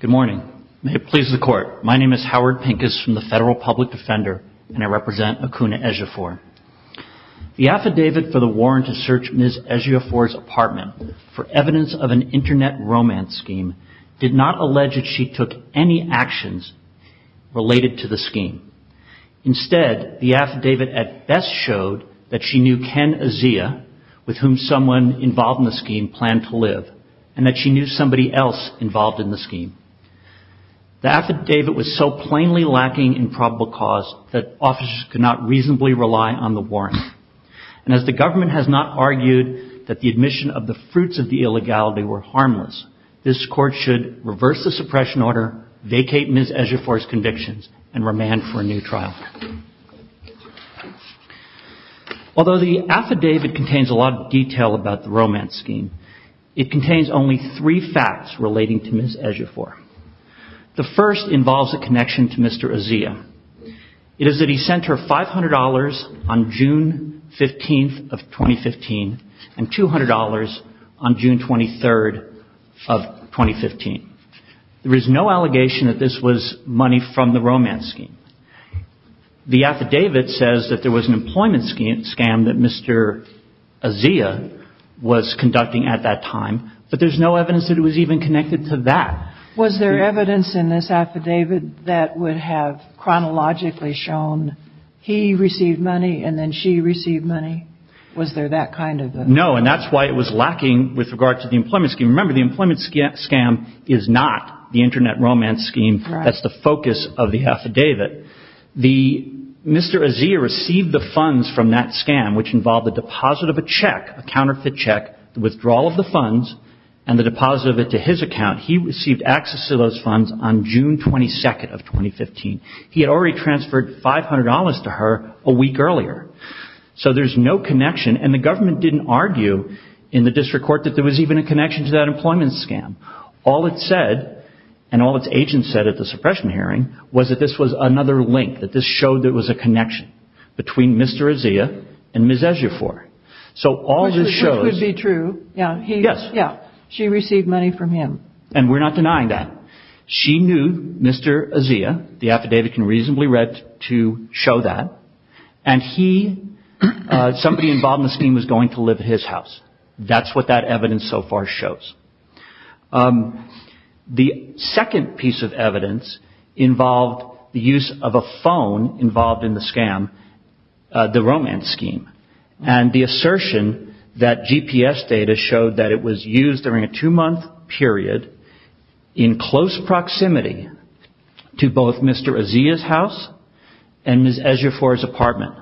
Good morning. May it please the court. My name is Howard Pincus from the Federal Public Defender and I represent Akuna Ejiofor. The affidavit for the warrant to search Ms. Ejiofor's apartment for evidence of an internet romance scheme did not allege that she took any actions related to the scheme. Instead, the affidavit at best showed that she knew Ken Ejiofor, with whom someone involved in the scheme planned to live, and that she knew somebody else involved in the scheme. The affidavit was so plainly lacking in probable cause that officers could not reasonably rely on the warrant. And as the government has not argued that the admission of the fruits of the illegality were harmless, this court should reverse the suppression order, vacate Ms. Ejiofor's convictions, and remand for a new trial. Although the affidavit contains a lot of detail about the romance scheme, it contains only three facts relating to Ms. Ejiofor. The first involves a connection to Mr. Azea. It is that Mr. Azea sent her $500 on June 15th of 2015 and $200 on June 23rd of 2015. There is no allegation that this was money from the romance scheme. The affidavit says that there was an employment scam that Mr. Azea was conducting at that time, but there's no evidence that it was even connected to that. Was there evidence in this affidavit that would have chronologically shown he received money and then she received money? Was there that kind of a... No, and that's why it was lacking with regard to the employment scheme. Remember, the employment scam is not the internet romance scheme. That's the focus of the affidavit. Mr. Azea received the funds from that scam, which involved the deposit of a check, a counterfeit check, the withdrawal of the funds, and the deposit of it to his account. He received access to those funds on June 22nd of 2015. He had already transferred $500 to her a week earlier. So there's no connection, and the government didn't argue in the district court that there was even a connection to that employment scam. All it said, and all its agents said at the suppression hearing, was that this was another link, that this showed there was a connection between Mr. Azea and Ms. Ejiofor. Which would be true. Yes. She received money from him. And we're not denying that. She knew Mr. Azea, the affidavit can reasonably read to show that, and somebody involved in the scheme was going to live at his house. That's what that evidence so far shows. The second piece of evidence involved the use of a phone involved in the scam, the romance scheme. And the assertion that GPS data showed that it was used during a two-month period in close proximity to both Mr. Azea's house and Ms. Ejiofor's apartment.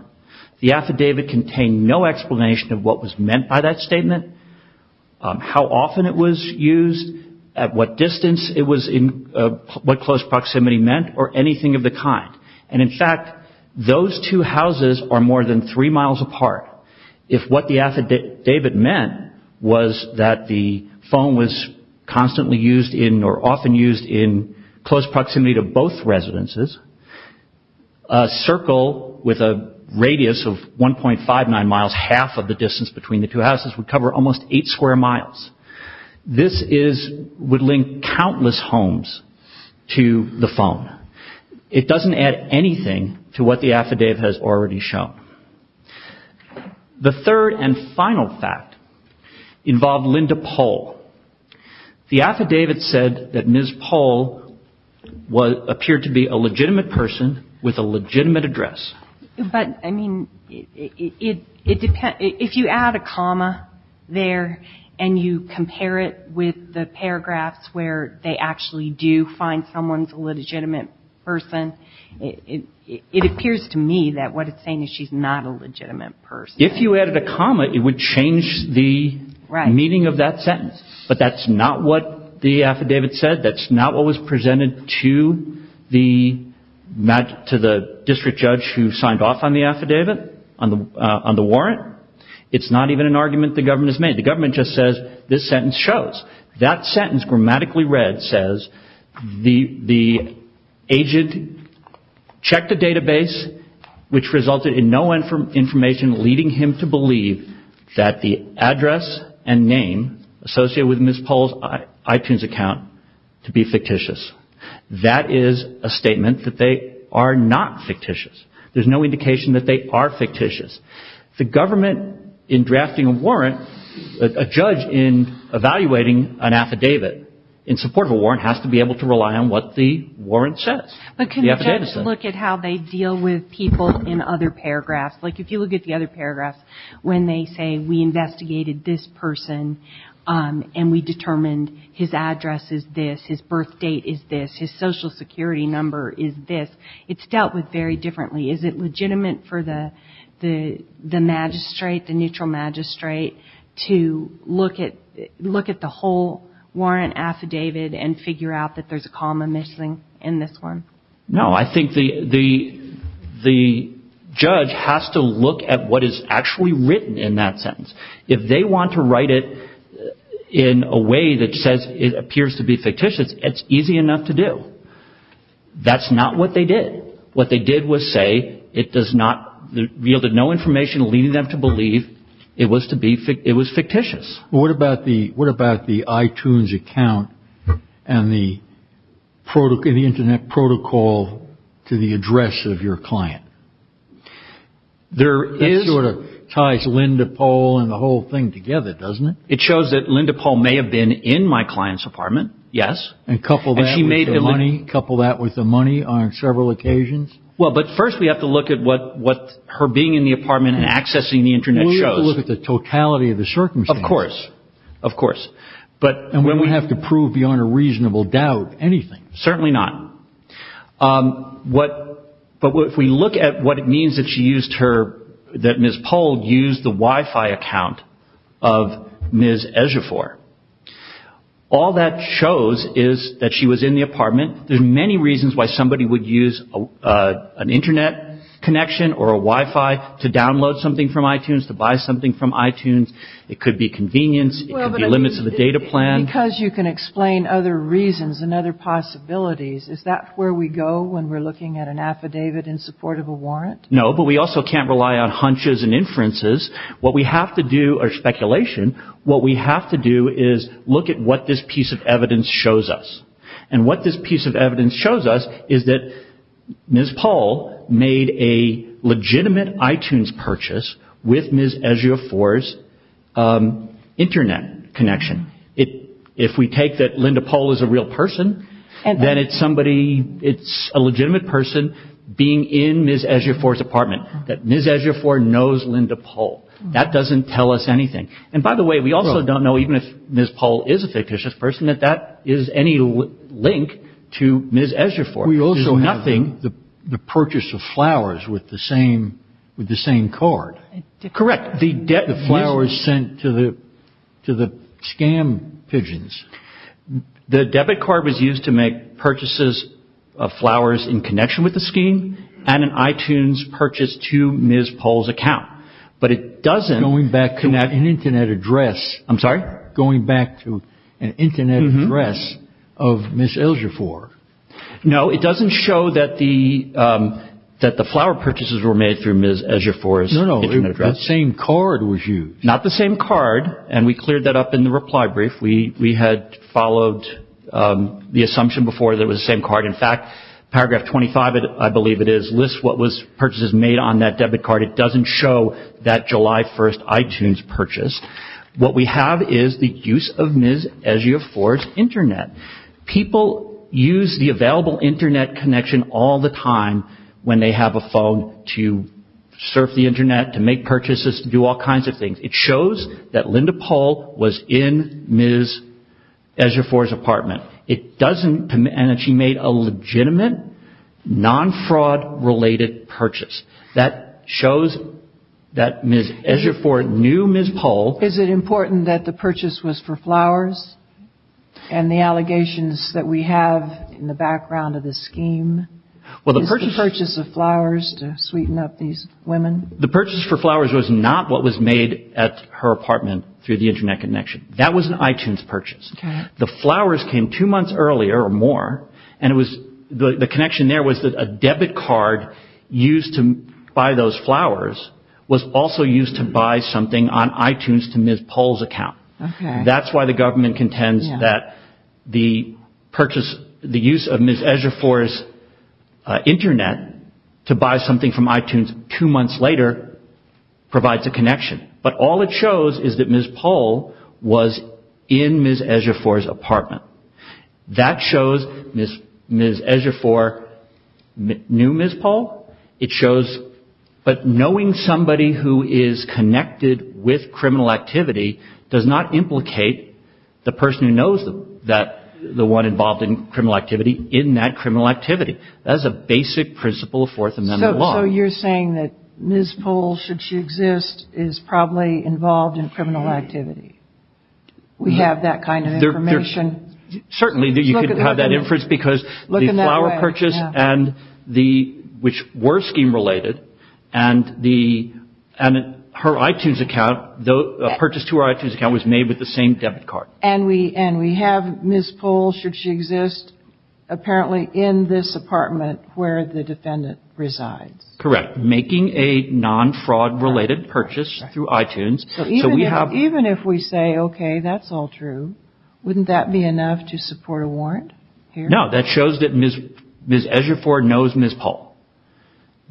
The affidavit contained no explanation of what was meant by that statement, how often it was used, at what distance it was in, what close proximity meant, or anything of the Those two houses are more than three miles apart. If what the affidavit meant was that the phone was constantly used in, or often used in, close proximity to both residences, a circle with a radius of 1.59 miles, half of the distance between the two houses, would cover almost eight square miles. This is, would link countless homes to the phone. It The third and final fact involved Linda Pohl. The affidavit said that Ms. Pohl appeared to be a legitimate person with a legitimate address. But, I mean, it depends, if you add a comma there, and you compare it with the paragraphs where they actually do find someone's a legitimate person, it appears to me that what it's saying is she's not a legitimate person. If you added a comma, it would change the meaning of that sentence. But that's not what the affidavit said. That's not what was presented to the district judge who signed off on the affidavit, on the warrant. It's not even an argument the government has made. The government just says, this sentence shows. That sentence, grammatically read, says, the agent checked a database which resulted in no information leading him to believe that the address and name associated with Ms. Pohl's iTunes account to be fictitious. That is a statement that they are not fictitious. There's no indication that they are fictitious. The government, in drafting a warrant, a judge, in evaluating an affidavit in support of a warrant, has to be able to rely on what the warrant says, the affidavit says. But can the judge look at how they deal with people in other paragraphs? Like, if you look at the other paragraphs, when they say, we investigated this person, and we determined his address is this, his birth date is this, his social security number is this, it's dealt with very differently. Is it legitimate for the magistrate, the neutral magistrate, to look at the whole warrant affidavit and figure out that there's a comma missing in this one? No, I think the judge has to look at what is actually written in that sentence. If they want to write it in a way that says it appears to be fictitious, it's easy enough to do. That's not what they did. What they did was say it does not, yielded no information leading them to believe it was to be, it was fictitious. What about the, what about the iTunes account and the internet protocol to the address of your client? That sort of ties Linda Pohl and the whole thing together, doesn't it? It shows that Linda Pohl may have been in my client's apartment, yes. And coupled that with the money, coupled that with the money on several occasions? Well, but first we have to look at what her being in the apartment and accessing the internet shows. We have to look at the totality of the circumstances. Of course, of course. And we don't have to prove beyond a reasonable doubt anything. Certainly not. But if we look at what it means that she used her, that Ms. Pohl used the address, that she was in the apartment, there's many reasons why somebody would use an internet connection or a Wi-Fi to download something from iTunes, to buy something from iTunes. It could be convenience. It could be limits of the data plan. Because you can explain other reasons and other possibilities, is that where we go when we're looking at an affidavit in support of a warrant? No, but we also can't rely on hunches and inferences. What we have to do, or speculation, what we have to do is look at what this piece of evidence shows us. And what this piece of evidence shows us is that Ms. Pohl made a legitimate iTunes purchase with Ms. Ejiofor's internet connection. If we take that Linda Pohl is a real person, then it's somebody, it's a legitimate person being in Ms. Ejiofor's apartment. That Ms. Ejiofor knows Linda Pohl. That doesn't tell us anything. And by the way, we also don't know, even if Ms. Pohl is a fictitious person, that that is any link to Ms. Ejiofor. We also have the purchase of flowers with the same card. Correct. The flowers sent to the scam pigeons. The debit card was used to make purchases of flowers in connection with the scheme and an iTunes purchase to Ms. Pohl's account. But it doesn't... Going back to an internet address of Ms. Ejiofor. No, it doesn't show that the flower purchases were made through Ms. Ejiofor's internet address. No, no. The same card was used. Not the same card. And we cleared that up in the reply brief. We had followed the assumption before that it was the same card. In fact, paragraph 25, I believe it is, lists what purchases were made on that debit card. It doesn't show that July 1st iTunes purchase. What we have is the use of Ms. Ejiofor's internet. People use the available internet connection all the time when they have a phone to surf the internet, to make purchases, to do all kinds of things. It shows that Linda Pohl was in Ms. Ejiofor's apartment. It doesn't... And that she made a legitimate, non-fraud related purchase. That shows that Ms. Ejiofor knew Ms. Pohl. Is it important that the purchase was for flowers? And the allegations that we have in the background of this scheme is the purchase of flowers to sweeten up these women? The purchase for flowers was not what was made at her apartment through the internet connection. That was an iTunes purchase. The flowers came two months earlier or more, and it was... To buy those flowers was also used to buy something on iTunes to Ms. Pohl's account. That's why the government contends that the purchase, the use of Ms. Ejiofor's internet to buy something from iTunes two months later provides a connection. But all it shows is that Ms. Pohl was in Ms. Ejiofor's apartment. That shows Ms. Ejiofor knew Ms. Pohl. It shows... But knowing somebody who is connected with criminal activity does not implicate the person who knows the one involved in criminal activity in that criminal activity. That is a basic principle of Fourth Amendment law. So you're saying that Ms. Pohl, should she exist, is probably involved in criminal activity? We have that kind of information? Certainly, you could have that inference because the flower purchase, which were scheme-related, and her iTunes account, the purchase to her iTunes account was made with the same debit card. And we have Ms. Pohl, should she exist, apparently in this apartment where the defendant resides? Correct. Making a non-fraud-related purchase through iTunes. Even if we say, okay, that's all true, wouldn't that be enough to support a warrant? No, that shows that Ms. Ejiofor knows Ms. Pohl.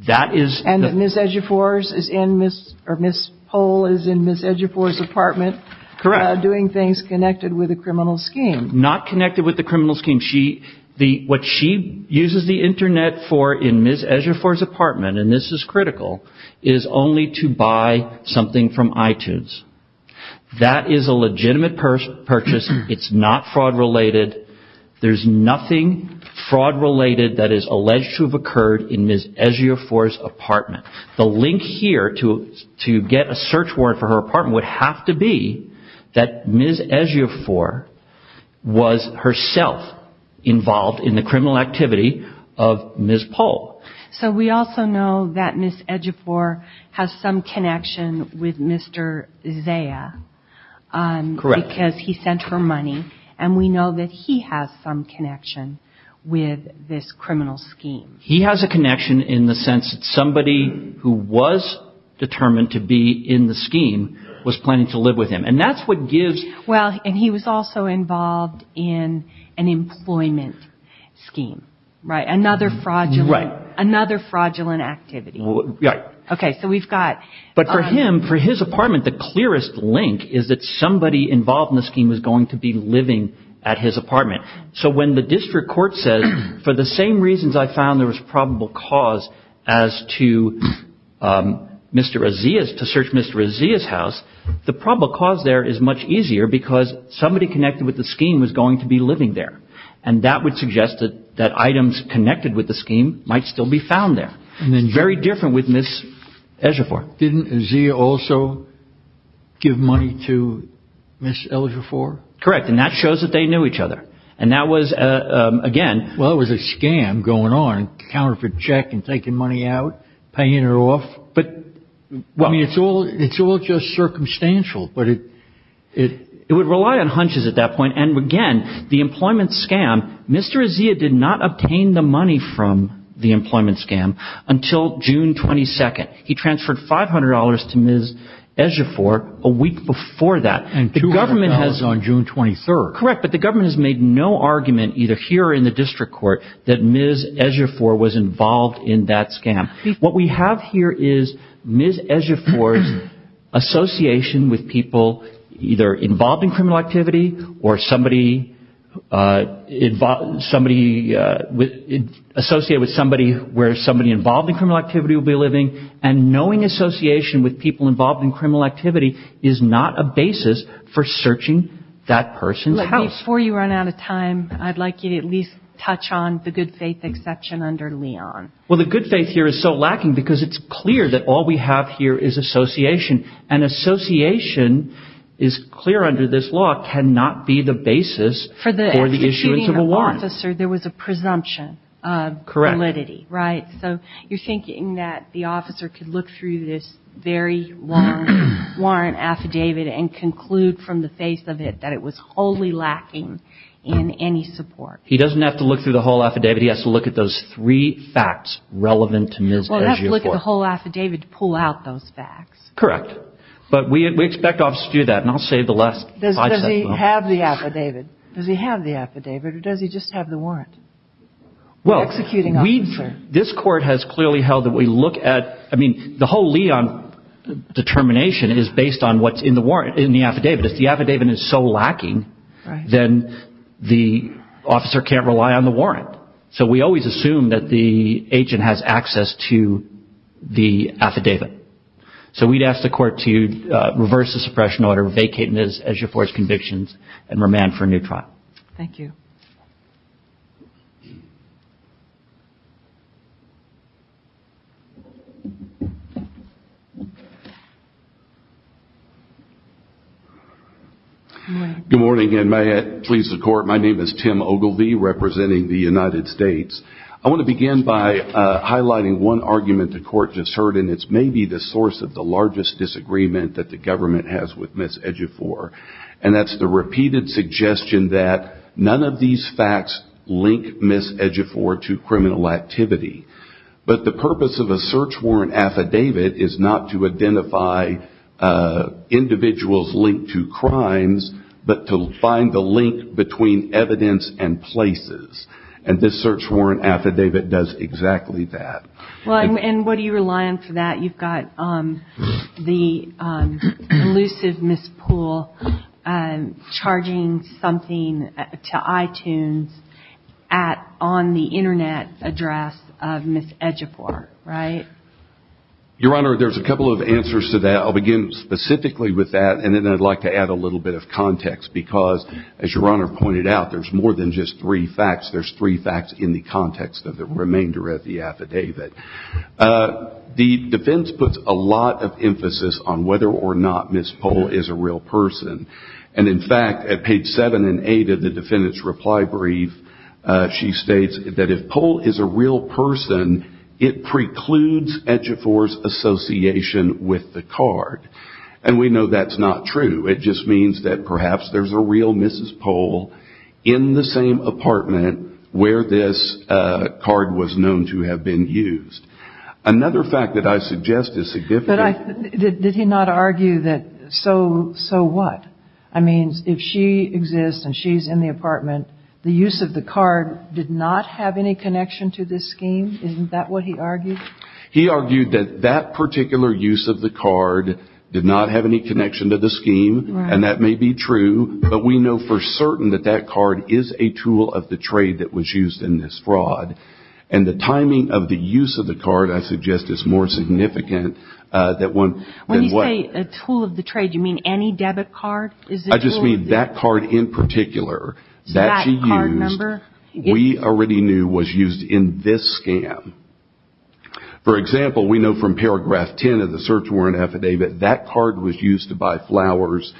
That is... And that Ms. Pohl is in Ms. Ejiofor's apartment doing things connected with a criminal scheme. Not connected with a criminal scheme. What she uses the internet for in Ms. Ejiofor's apartment, and this is critical, is only to iTunes. That is a legitimate purchase. It's not fraud-related. There's nothing fraud-related that is alleged to have occurred in Ms. Ejiofor's apartment. The link here to get a search warrant for her apartment would have to be that Ms. Ejiofor was herself involved in the criminal activity of Ms. Pohl. So we also know that Ms. Ejiofor has some connection with Mr. Zaya, because he sent her money, and we know that he has some connection with this criminal scheme. He has a connection in the sense that somebody who was determined to be in the scheme was planning to live with him, and that's what gives... Well, and he was also involved in an employment scheme, right? Another fraudulent... Right. Another fraudulent activity. Right. Okay. So we've got... But for him, for his apartment, the clearest link is that somebody involved in the scheme was going to be living at his apartment. So when the district court says, for the same reasons I found there was probable cause as to Mr. Aziz, to search Mr. Aziz's house, the probable cause there is much easier because somebody connected with the scheme was going to be living there. And that would suggest that items connected with the scheme might still be found there. Very different with Ms. Ejiofor. Didn't Zaya also give money to Ms. Ejiofor? Correct. And that shows that they knew each other. And that was, again... Well, it was a scam going on, counterfeit check and taking money out, paying her off. But... I mean, it's all just circumstantial, but it... It would rely on hunches at that point. And again, the employment scam, Mr. Aziz did not obtain the money from the employment scam until June 22nd. He transferred $500 to Ms. Ejiofor a week before that. And $200 on June 23rd. Correct. But the government has made no argument, either here or in the district court, that Ms. Ejiofor was involved in that scam. What we have here is Ms. Ejiofor's association with people either involved in criminal activity or somebody associated with somebody where somebody involved in criminal activity will be living. And knowing association with people involved in criminal activity is not a basis for searching that person's house. Before you run out of time, I'd like you to at least touch on the good faith exception under Leon. Well, the good faith here is so lacking because it's clear that all we have here is association. And association is clear under this law, cannot be the basis for the issuance of a warrant. For the executing officer, there was a presumption of validity, right? So you're thinking that the officer could look through this very long warrant affidavit and conclude from the face of it that it was wholly lacking in any support. He doesn't have to look through the whole affidavit, he has to look at those three facts relevant to Ms. Ejiofor. He doesn't have to look at the whole affidavit to pull out those facts. Correct. But we expect officers to do that, and I'll save the last five seconds. Does he have the affidavit? Does he have the affidavit, or does he just have the warrant for executing the officer? This court has clearly held that we look at, I mean, the whole Leon determination is based on what's in the warrant, in the affidavit. If the affidavit is so lacking, then the officer can't rely on the warrant. So we always assume that the agent has access to the affidavit. So we'd ask the court to reverse the suppression order, vacate Ms. Ejiofor's convictions, and remand for a new trial. Thank you. Good morning, and may it please the court, my name is Tim Ogilvie, representing the United States. I want to begin by highlighting one argument the court just heard, and it's maybe the source of the largest disagreement that the government has with Ms. Ejiofor, and that's the repeated suggestion that none of these facts link Ms. Ejiofor to criminal activity. But the purpose of a search warrant affidavit is not to identify individuals linked to crimes, but to find the link between evidence and places. And this search warrant affidavit does exactly that. And what do you rely on for that? You've got the elusive Ms. Poole charging something to iTunes on the internet address of Ms. Ejiofor, right? Your Honor, there's a couple of answers to that. I'll begin specifically with that, and then I'd like to add a little bit of context, because as Your Honor pointed out, there's more than just three facts. There's three facts in the context of the remainder of the affidavit. The defense puts a lot of emphasis on whether or not Ms. Poole is a real person. And in fact, at page seven and eight of the defendant's reply brief, she states that if Poole is a real person, it precludes Ejiofor's association with the card. And we know that's not true. It just means that perhaps there's a real Mrs. Poole in the same apartment where this card was known to have been used. Another fact that I suggest is significant. Did he not argue that, so what? I mean, if she exists and she's in the apartment, the use of the card did not have any connection to this scheme? Isn't that what he argued? He argued that that particular use of the card did not have any connection to the scheme, and that may be true, but we know for certain that that card is a tool of the trade that was used in this fraud. And the timing of the use of the card, I suggest, is more significant than what... When you say a tool of the trade, do you mean any debit card? I just mean that card in particular that she used, we already knew was used in this scam. For example, we know from paragraph 10 of the search warrant affidavit, that card was used to buy flowers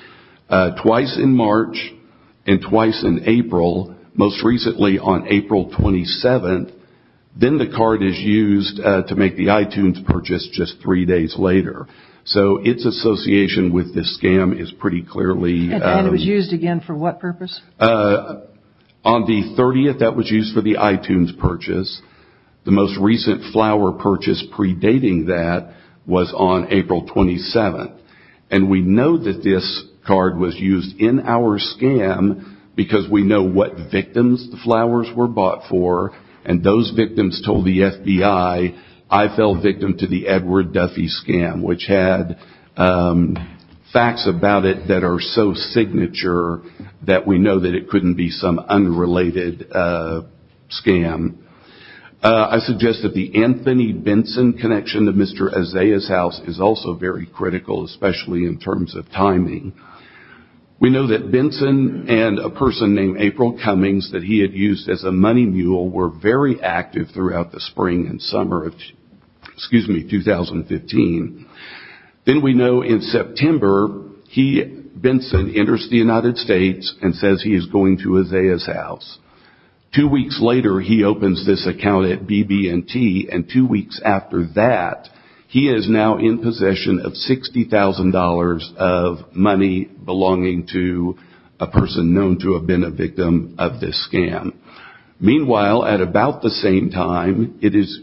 twice in March and twice in April, most recently on April 27th. Then the card is used to make the iTunes purchase just three days later. So its association with this scam is pretty clearly... And it was used again for what purpose? On the 30th, that was used for the iTunes purchase. The most recent flower purchase predating that was on April 27th. And we know that this card was used in our scam because we know what victims the flowers were bought for, and those victims told the FBI, I fell victim to the Edward Duffy scam, which had facts about it that are so signature that we know that it couldn't be some unrelated scam. I suggest that the Anthony Benson connection to Mr. Azaia's house is also very critical, especially in terms of timing. We know that Benson and a person named April Cummings that he had used as a money mule were very active throughout the spring and summer of 2015. Then we know in September, Benson enters the United States and says he is going to Azaia's house. Two weeks later, he opens this account at BB&T and two weeks after that, he is now in possession of $60,000 of money belonging to a person known to have been a victim of this scam. Meanwhile, at about the same time, it is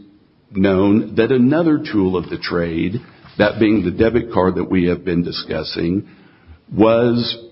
known that another tool of the trade, that being the debit card that we have been discussing, was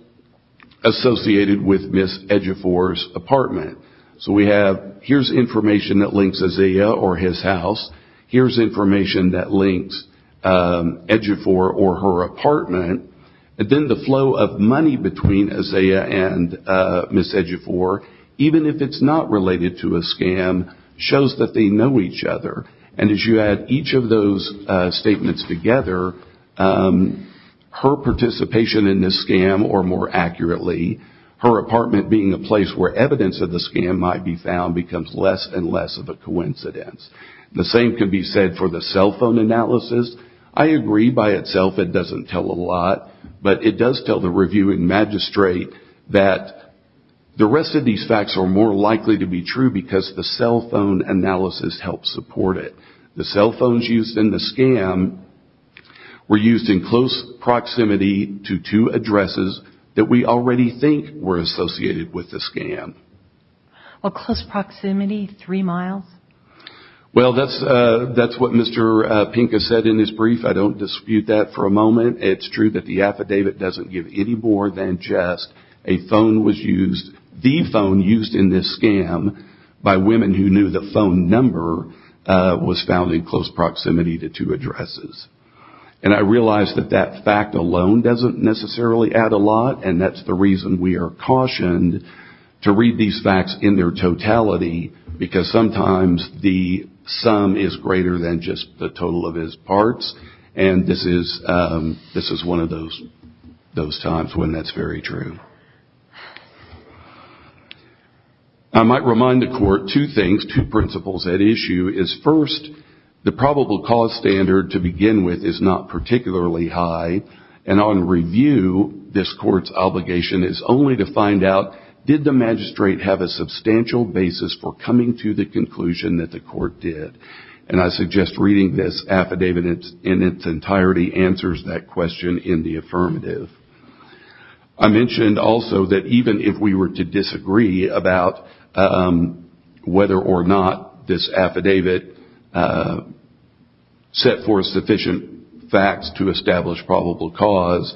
associated with Ms. Ejifor's apartment So we have, here is information that links Azaia or his house, here is information that links Ejifor or her apartment, and then the flow of money between Azaia and Ms. Ejifor, even if it is not related to a scam, shows that they know each other. As you add each of those statements together, her participation in this scam, or more accurately, her apartment being a place where evidence of the scam might be found, becomes less and less of a coincidence. The same can be said for the cell phone analysis. I agree by itself that it does not tell a lot, but it does tell the reviewing magistrate that the rest of these facts are more likely to be true because the cell phone analysis helps support it. The cell phones used in the scam were used in close proximity to two addresses that we already think were associated with the scam. Close proximity, three miles? Well that is what Mr. Pink has said in his brief, I don't dispute that for a moment. It's true that the affidavit doesn't give any more than just the phone used in this scam by women who knew the phone number was found in close proximity to two addresses. I realize that that fact alone doesn't necessarily add a lot, and that's the reason we are cautioned to read these facts in their totality, because sometimes the sum is greater than just the total of his parts, and this is one of those times when that's very true. I might remind the court two things, two principles at issue, is first, the probable cause standard to begin with is not particularly high, and on review, this court's obligation is only to find out, did the magistrate have a substantial basis for coming to the conclusion that the court did? And I suggest reading this affidavit in its entirety answers that question in the affirmative. I mentioned also that even if we were to disagree about whether or not this affidavit set forth sufficient facts to establish probable cause,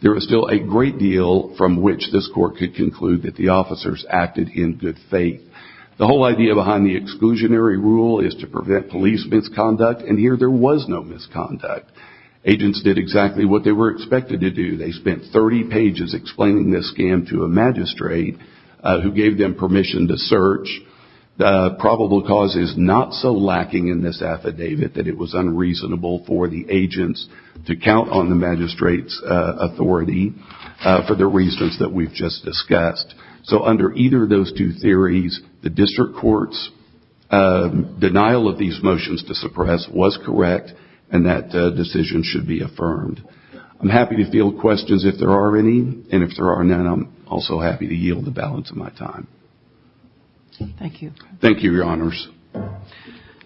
there is still a great deal from which this court could conclude that the officers acted in good faith. The whole idea behind the exclusionary rule is to prevent police misconduct, and here there was no misconduct. Agents did exactly what they were expected to do. They spent 30 pages explaining this scam to a magistrate who gave them permission to search. The probable cause is not so lacking in this affidavit that it was unreasonable for the agents to count on the magistrate's authority for the reasons that we've just discussed. So under either of those two theories, the district court's denial of these motions to suppress was correct, and that decision should be affirmed. I'm happy to field questions if there are any, and if there are none, I'm also happy to yield the balance of my time. Thank you. Thank you, Your Honors.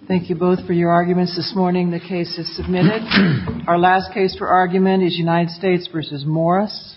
Thank you both for your arguments this morning. The case is submitted. Our last case for argument is United States v. Morris.